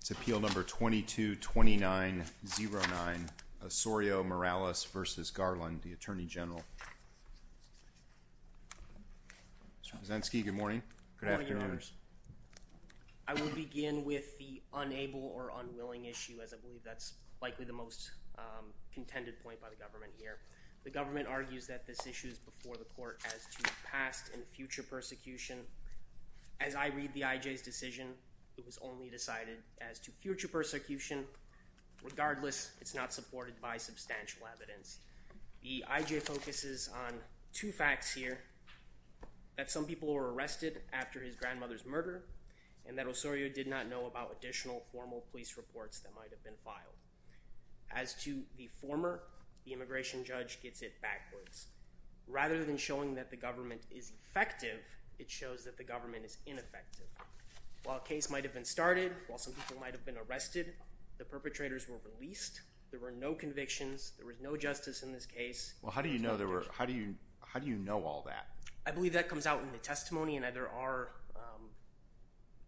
It's Appeal No. 22-29-09, Osorio-Morales v. Garland, the Attorney General. Mr. Brzezinski, good morning. Good afternoon. Good morning, Your Honors. I will begin with the unable or unwilling issue, as I believe that's likely the most contended point by the government here. The government argues that this issue is before the court as to past and future persecution. As I read the I.J.'s decision, it was only decided as to future persecution. Regardless, it's not supported by substantial evidence. The I.J. focuses on two facts here, that some people were arrested after his grandmother's murder, and that Osorio did not know about additional formal police reports that might have been filed. As to the former, the immigration judge gets it backwards. Rather than showing that the government is effective, it shows that the government is ineffective. While a case might have been started, while some people might have been arrested, the perpetrators were released. There were no convictions. There was no justice in this case. Well, how do you know all that? I believe that comes out in the testimony, and there are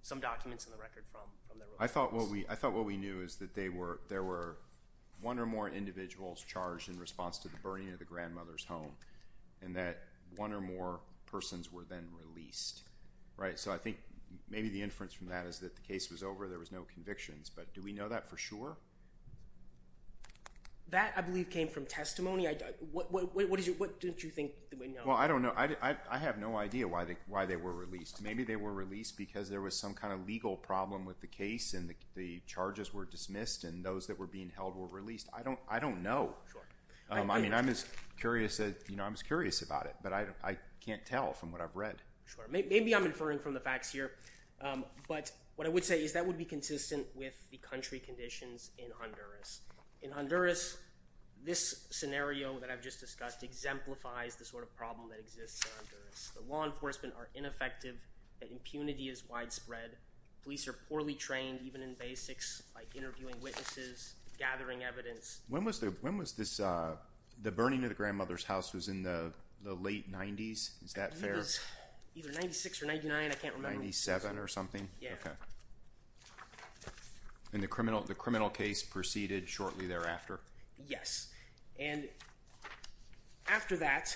some documents in the record from their release. I thought what we knew is that there were one or more individuals charged in response to the burning of the grandmother's home, and that one or more persons were then released. So I think maybe the inference from that is that the case was over, there was no convictions. But do we know that for sure? That, I believe, came from testimony. What don't you think we know? Well, I don't know. I have no idea why they were released. Maybe they were released because there was some kind of legal problem with the case, and the charges were dismissed, and those that were being held were released. I don't know. I mean, I'm just curious about it, but I can't tell from what I've read. Maybe I'm inferring from the facts here, but what I would say is that would be consistent with the country conditions in Honduras. In Honduras, this scenario that I've just discussed exemplifies the sort of problem that exists in Honduras. The law enforcement are ineffective. Impunity is widespread. Police are poorly trained, even in basics like interviewing witnesses, gathering evidence. When was this – the burning of the grandmother's house was in the late 90s? Is that fair? I believe it was either 96 or 99. I can't remember. 97 or something? Yeah. And the criminal case proceeded shortly thereafter? Yes. And after that,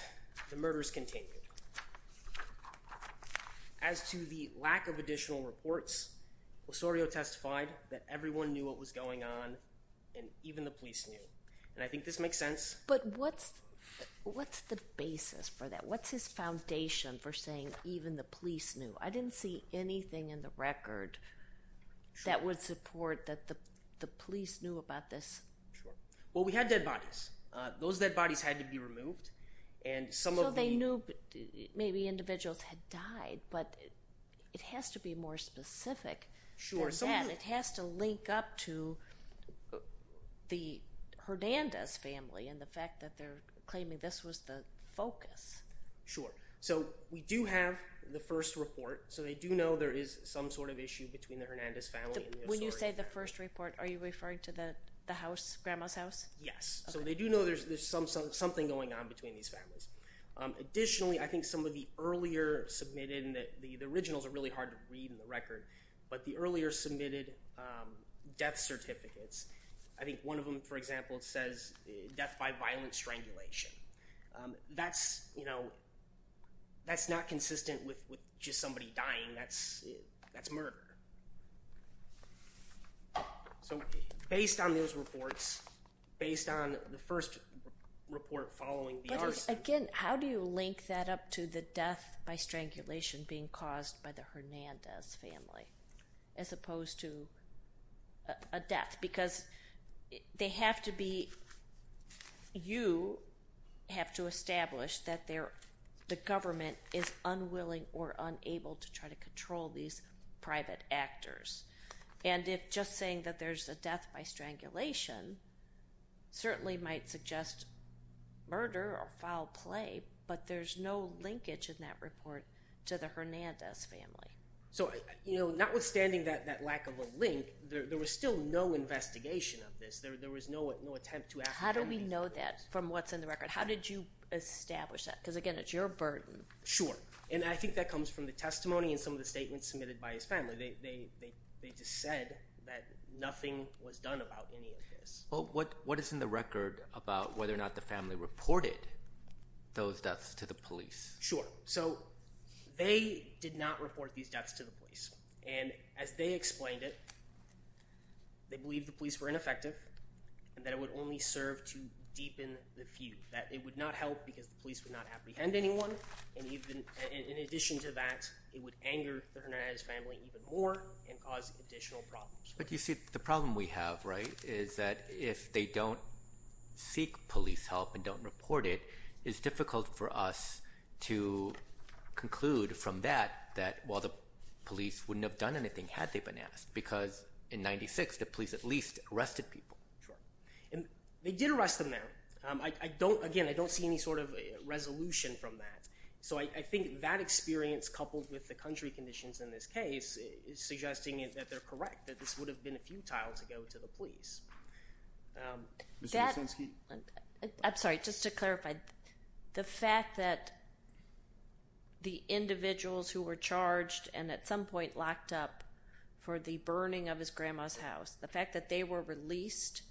the murders continued. As to the lack of additional reports, Osorio testified that everyone knew what was going on, and even the police knew. And I think this makes sense. But what's the basis for that? What's his foundation for saying even the police knew? I didn't see anything in the record that would support that the police knew about this. Well, we had dead bodies. Those dead bodies had to be removed. So they knew maybe individuals had died, but it has to be more specific than that. It has to link up to the Hernandez family and the fact that they're claiming this was the focus. Sure. So we do have the first report, so they do know there is some sort of issue between the Hernandez family and the Osorio family. When you say the first report, are you referring to the house, Grandma's house? Yes. So they do know there's something going on between these families. Additionally, I think some of the earlier submitted—the originals are really hard to read in the record—but the earlier submitted death certificates, I think one of them, for example, says death by violent strangulation. That's not consistent with just somebody dying. That's murder. So based on those reports, based on the first report following the arson— But again, how do you link that up to the death by strangulation being caused by the Hernandez family as opposed to a death? Because they have to be—you have to establish that the government is unwilling or unable to try to control these private actors. And if just saying that there's a death by strangulation certainly might suggest murder or foul play, but there's no linkage in that report to the Hernandez family. So notwithstanding that lack of a link, there was still no investigation of this. There was no attempt to— How do we know that from what's in the record? How did you establish that? Because again, it's your burden. Sure. And I think that comes from the testimony and some of the statements submitted by his family. They just said that nothing was done about any of this. Well, what is in the record about whether or not the family reported those deaths to the police? Sure. So they did not report these deaths to the police. And as they explained it, they believed the police were ineffective and that it would only serve to deepen the feud, that it would not help because the police would not apprehend anyone. And in addition to that, it would anger the Hernandez family even more and cause additional problems. But you see, the problem we have, right, is that if they don't seek police help and don't report it, it's difficult for us to conclude from that that while the police wouldn't have done anything had they been asked because in 1996, the police at least arrested people. Sure. And they did arrest them there. Again, I don't see any sort of resolution from that. So I think that experience coupled with the country conditions in this case is suggesting that they're correct, that this would have been futile to go to the police. Mr. Osinski? I'm sorry, just to clarify. The fact that the individuals who were charged and at some point locked up for the burning of his grandma's house, the fact that they were released,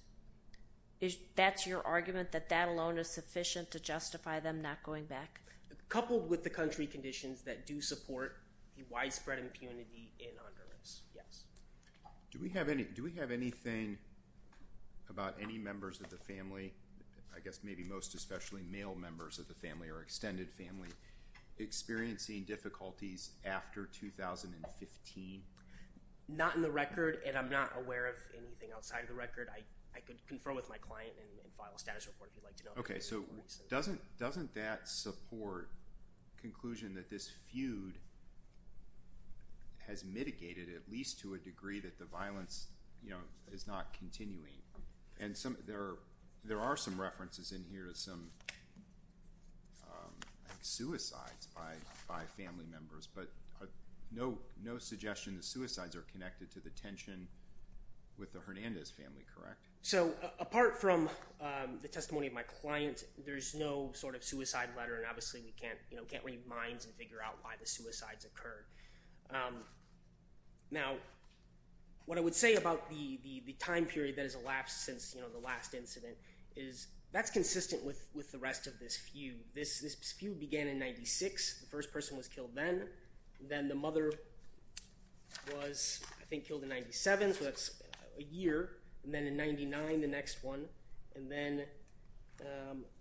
that's your argument that that alone is sufficient to justify them not going back? Coupled with the country conditions that do support the widespread impunity in Honduras, yes. Do we have anything about any members of the family, I guess maybe most especially male members of the family or extended family, experiencing difficulties after 2015? Not in the record, and I'm not aware of anything outside of the record. I could confer with my client and file a status report if you'd like to know. Okay, so doesn't that support the conclusion that this feud has mitigated at least to a degree that the violence is not continuing? And there are some references in here to some suicides by family members, but no suggestion the suicides are connected to the tension with the Hernandez family, correct? So apart from the testimony of my client, there's no sort of suicide letter, and obviously we can't read minds and figure out why the suicides occurred. Now, what I would say about the time period that has elapsed since the last incident is that's consistent with the rest of this feud. This feud began in 1996. The first person was killed then. Then the mother was, I think, killed in 97, so that's a year, and then in 99, the next one, and then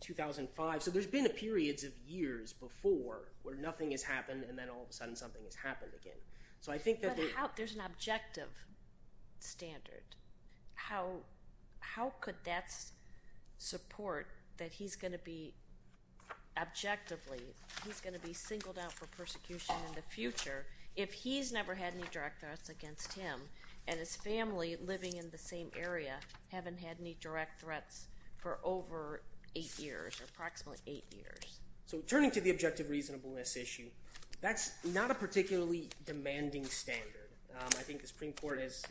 2005. So there's been periods of years before where nothing has happened, and then all of a sudden something has happened again. So I think that there's an objective standard. How could that support that he's going to be objectively, he's going to be singled out for persecution in the future, if he's never had any direct threats against him and his family living in the same area haven't had any direct threats for over eight years, approximately eight years? So turning to the objective reasonableness issue, that's not a particularly demanding standard. I think the Supreme Court has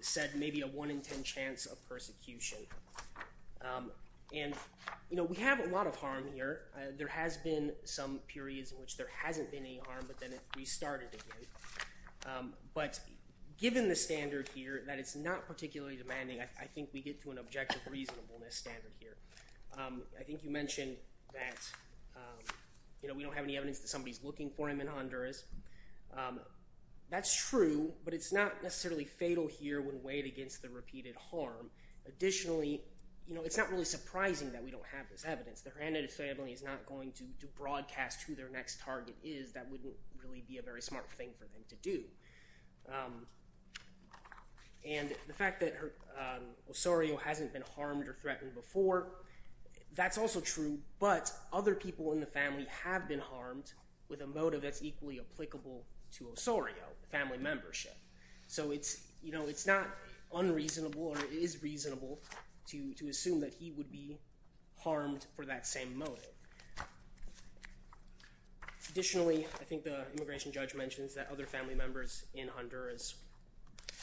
said maybe a one in ten chance of persecution, and we have a lot of harm here. There has been some periods in which there hasn't been any harm, but then it restarted again. But given the standard here that it's not particularly demanding, I think we get to an objective reasonableness standard here. I think you mentioned that we don't have any evidence that somebody is looking for him in Honduras. That's true, but it's not necessarily fatal here when weighed against the repeated harm. Additionally, it's not really surprising that we don't have this evidence. The Hernandez family is not going to broadcast who their next target is. That wouldn't really be a very smart thing for them to do. And the fact that Osorio hasn't been harmed or threatened before, that's also true. But other people in the family have been harmed with a motive that's equally applicable to Osorio, family membership. So it's not unreasonable or it is reasonable to assume that he would be harmed for that same motive. Additionally, I think the immigration judge mentions that other family members in Honduras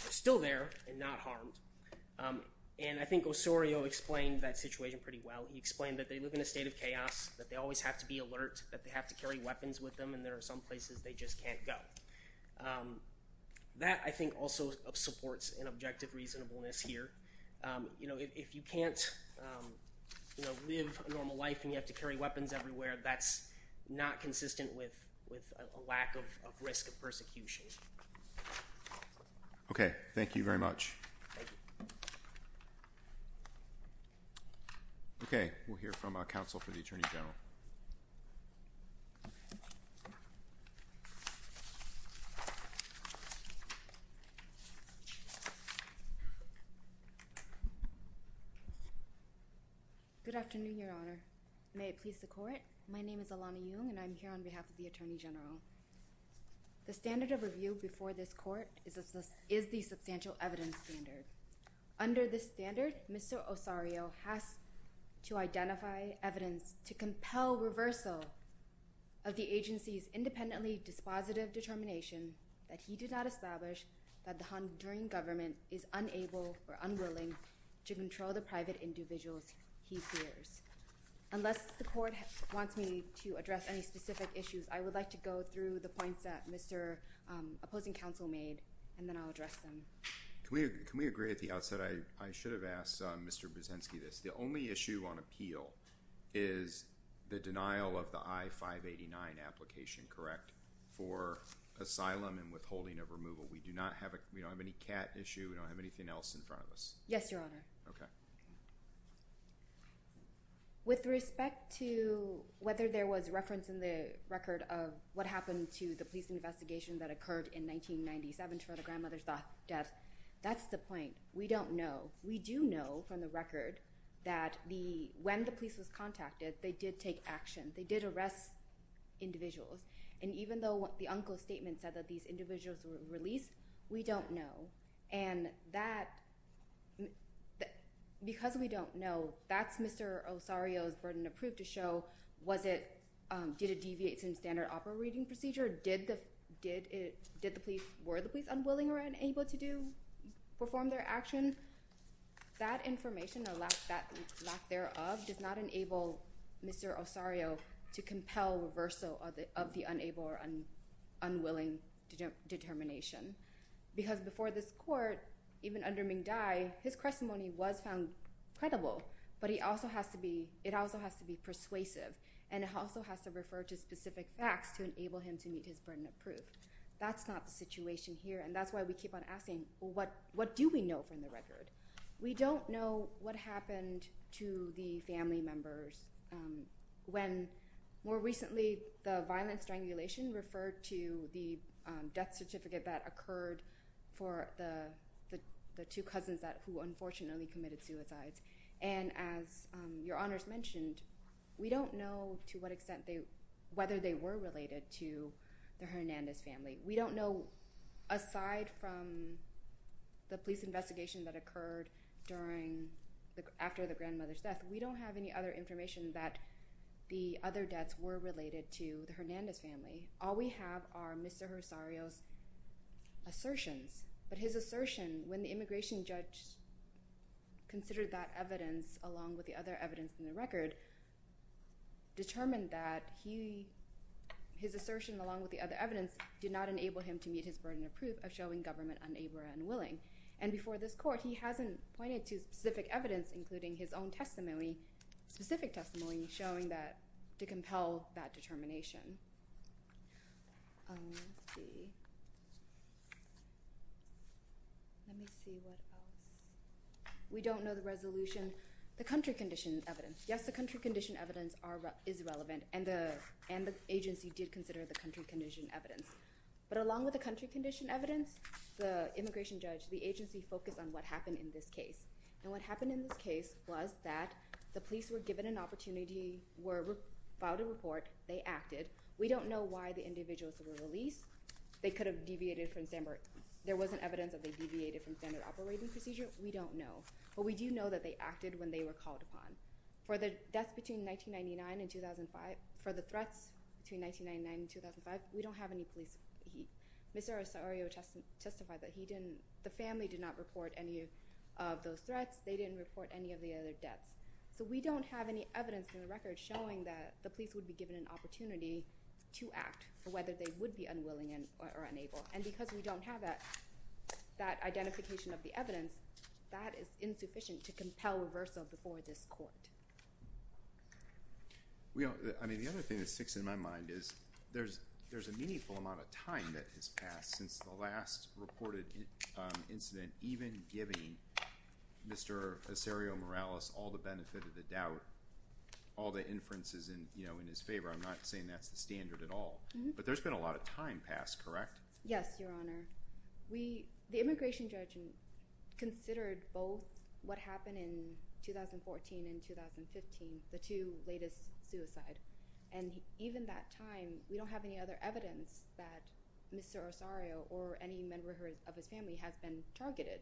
are still there and not harmed. And I think Osorio explained that situation pretty well. He explained that they live in a state of chaos, that they always have to be alert, that they have to carry weapons with them, and there are some places they just can't go. That, I think, also supports an objective reasonableness here. If you can't live a normal life and you have to carry weapons everywhere, that's not consistent with a lack of risk of persecution. Okay. Thank you very much. Okay. We'll hear from our counsel for the Attorney General. Good afternoon, Your Honor. May it please the Court? My name is Alana Jung, and I'm here on behalf of the Attorney General. The standard of review before this Court is the substantial evidence standard. Under this standard, Mr. Osorio has to identify evidence to compel reversal of the agency's independently dispositive determination that he did not establish that the Honduran government is unable or unwilling to control the private individuals he fears. Unless the Court wants me to address any specific issues, I would like to go through the points that Mr. opposing counsel made, and then I'll address them. Can we agree at the outset, I should have asked Mr. Brzezinski this, the only issue on appeal is the denial of the I-589 application, correct? For asylum and withholding of removal. We don't have any CAT issue, we don't have anything else in front of us. Yes, Your Honor. Okay. With respect to whether there was reference in the record of what happened to the police investigation that occurred in 1997 for the grandmother's death, that's the point. We don't know. We do know from the record that when the police was contacted, they did take action. They did arrest individuals. And even though the uncle's statement said that these individuals were released, we don't know. And that, because we don't know, that's Mr. Osorio's burden of proof to show was it, did it deviate from standard operating procedure? Did the police, were the police unwilling or unable to perform their action? That information or lack thereof does not enable Mr. Osorio to compel reversal of the unable or unwilling determination. Because before this court, even under Ming Dai, his testimony was found credible. But he also has to be, it also has to be persuasive. And it also has to refer to specific facts to enable him to meet his burden of proof. That's not the situation here. And that's why we keep on asking, what do we know from the record? We don't know what happened to the family members. When, more recently, the violent strangulation referred to the death certificate that occurred for the two cousins who unfortunately committed suicides. And as Your Honors mentioned, we don't know to what extent they, whether they were related to the Hernandez family. We don't know, aside from the police investigation that occurred during, after the grandmother's death, we don't have any other information that the other deaths were related to the Hernandez family. All we have are Mr. Osorio's assertions. But his assertion, when the immigration judge considered that evidence along with the other evidence in the record, determined that he, his assertion along with the other evidence, did not enable him to meet his burden of proof of showing government unable or unwilling. And before this court, he hasn't pointed to specific evidence, including his own testimony, specific testimony, showing that, to compel that determination. Let me see. Let me see what else. We don't know the resolution, the country condition evidence. Yes, the country condition evidence is relevant, and the agency did consider the country condition evidence. But along with the country condition evidence, the immigration judge, the agency focused on what happened in this case. And what happened in this case was that the police were given an opportunity, filed a report, they acted. We don't know why the individuals were released. They could have deviated from standard. There wasn't evidence that they deviated from standard operating procedure. We don't know. But we do know that they acted when they were called upon. For the deaths between 1999 and 2005, for the threats between 1999 and 2005, we don't have any police. Mr. Osorio testified that he didn't, the family did not report any of those threats. They didn't report any of the other deaths. So we don't have any evidence in the record showing that the police would be given an opportunity to act for whether they would be unwilling or unable. And because we don't have that identification of the evidence, that is insufficient to compel reversal before this court. I mean, the other thing that sticks in my mind is there's a meaningful amount of time that has passed since the last reported incident, even giving Mr. Osorio Morales all the benefit of the doubt, all the inferences in his favor. I'm not saying that's the standard at all. But there's been a lot of time passed, correct? Yes, Your Honor. The immigration judge considered both what happened in 2014 and 2015, the two latest suicides. And even that time, we don't have any other evidence that Mr. Osorio or any member of his family has been targeted.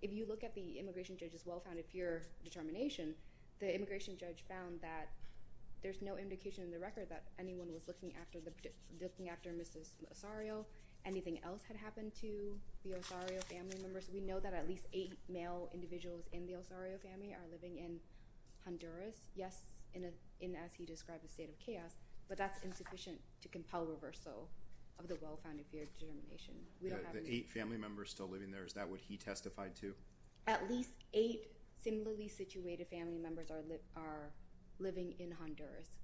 If you look at the immigration judge's well-founded pure determination, the immigration judge found that there's no indication in the record that anyone was looking after Mrs. Osorio. Anything else had happened to the Osorio family members? We know that at least eight male individuals in the Osorio family are living in Honduras. Yes, in as he described a state of chaos, but that's insufficient to compel reversal of the well-founded pure determination. The eight family members still living there, is that what he testified to? At least eight similarly situated family members are living in Honduras.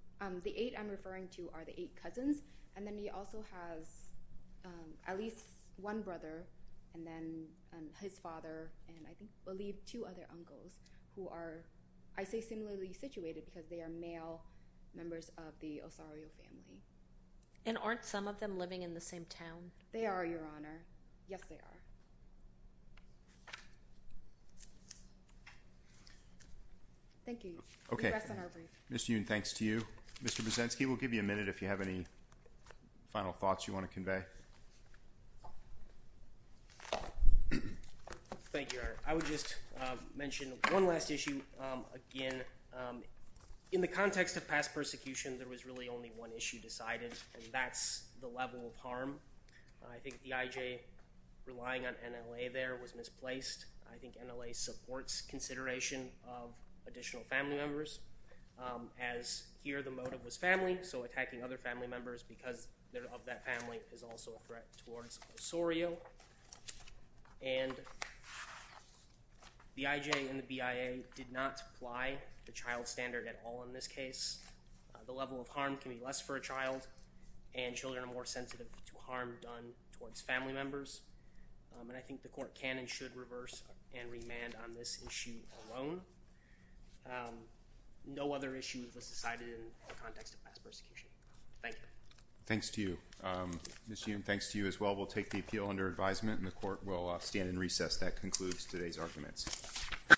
The eight I'm referring to are the eight cousins, and then he also has at least one brother, and then his father, and I believe two other uncles who are, I say similarly situated, because they are male members of the Osorio family. And aren't some of them living in the same town? They are, Your Honor. Yes, they are. Thank you. We rest on our brief. Mr. Yoon, thanks to you. Mr. Brzezinski, we'll give you a minute if you have any final thoughts you want to convey. Thank you, Your Honor. I would just mention one last issue. Again, in the context of past persecution, there was really only one issue decided, and that's the level of harm. I think the IJ relying on NLA there was misplaced. I think NLA supports consideration of additional family members, as here the motive was family, so attacking other family members because they're of that family is also a threat towards Osorio. And the IJ and the BIA did not apply the child standard at all in this case. The level of harm can be less for a child, and children are more sensitive to harm done towards family members. And I think the Court can and should reverse and remand on this issue alone. No other issue was decided in the context of past persecution. Thank you. Thanks to you. Ms. Yoon, thanks to you as well. We'll take the appeal under advisement, and the Court will stand in recess. That concludes today's arguments.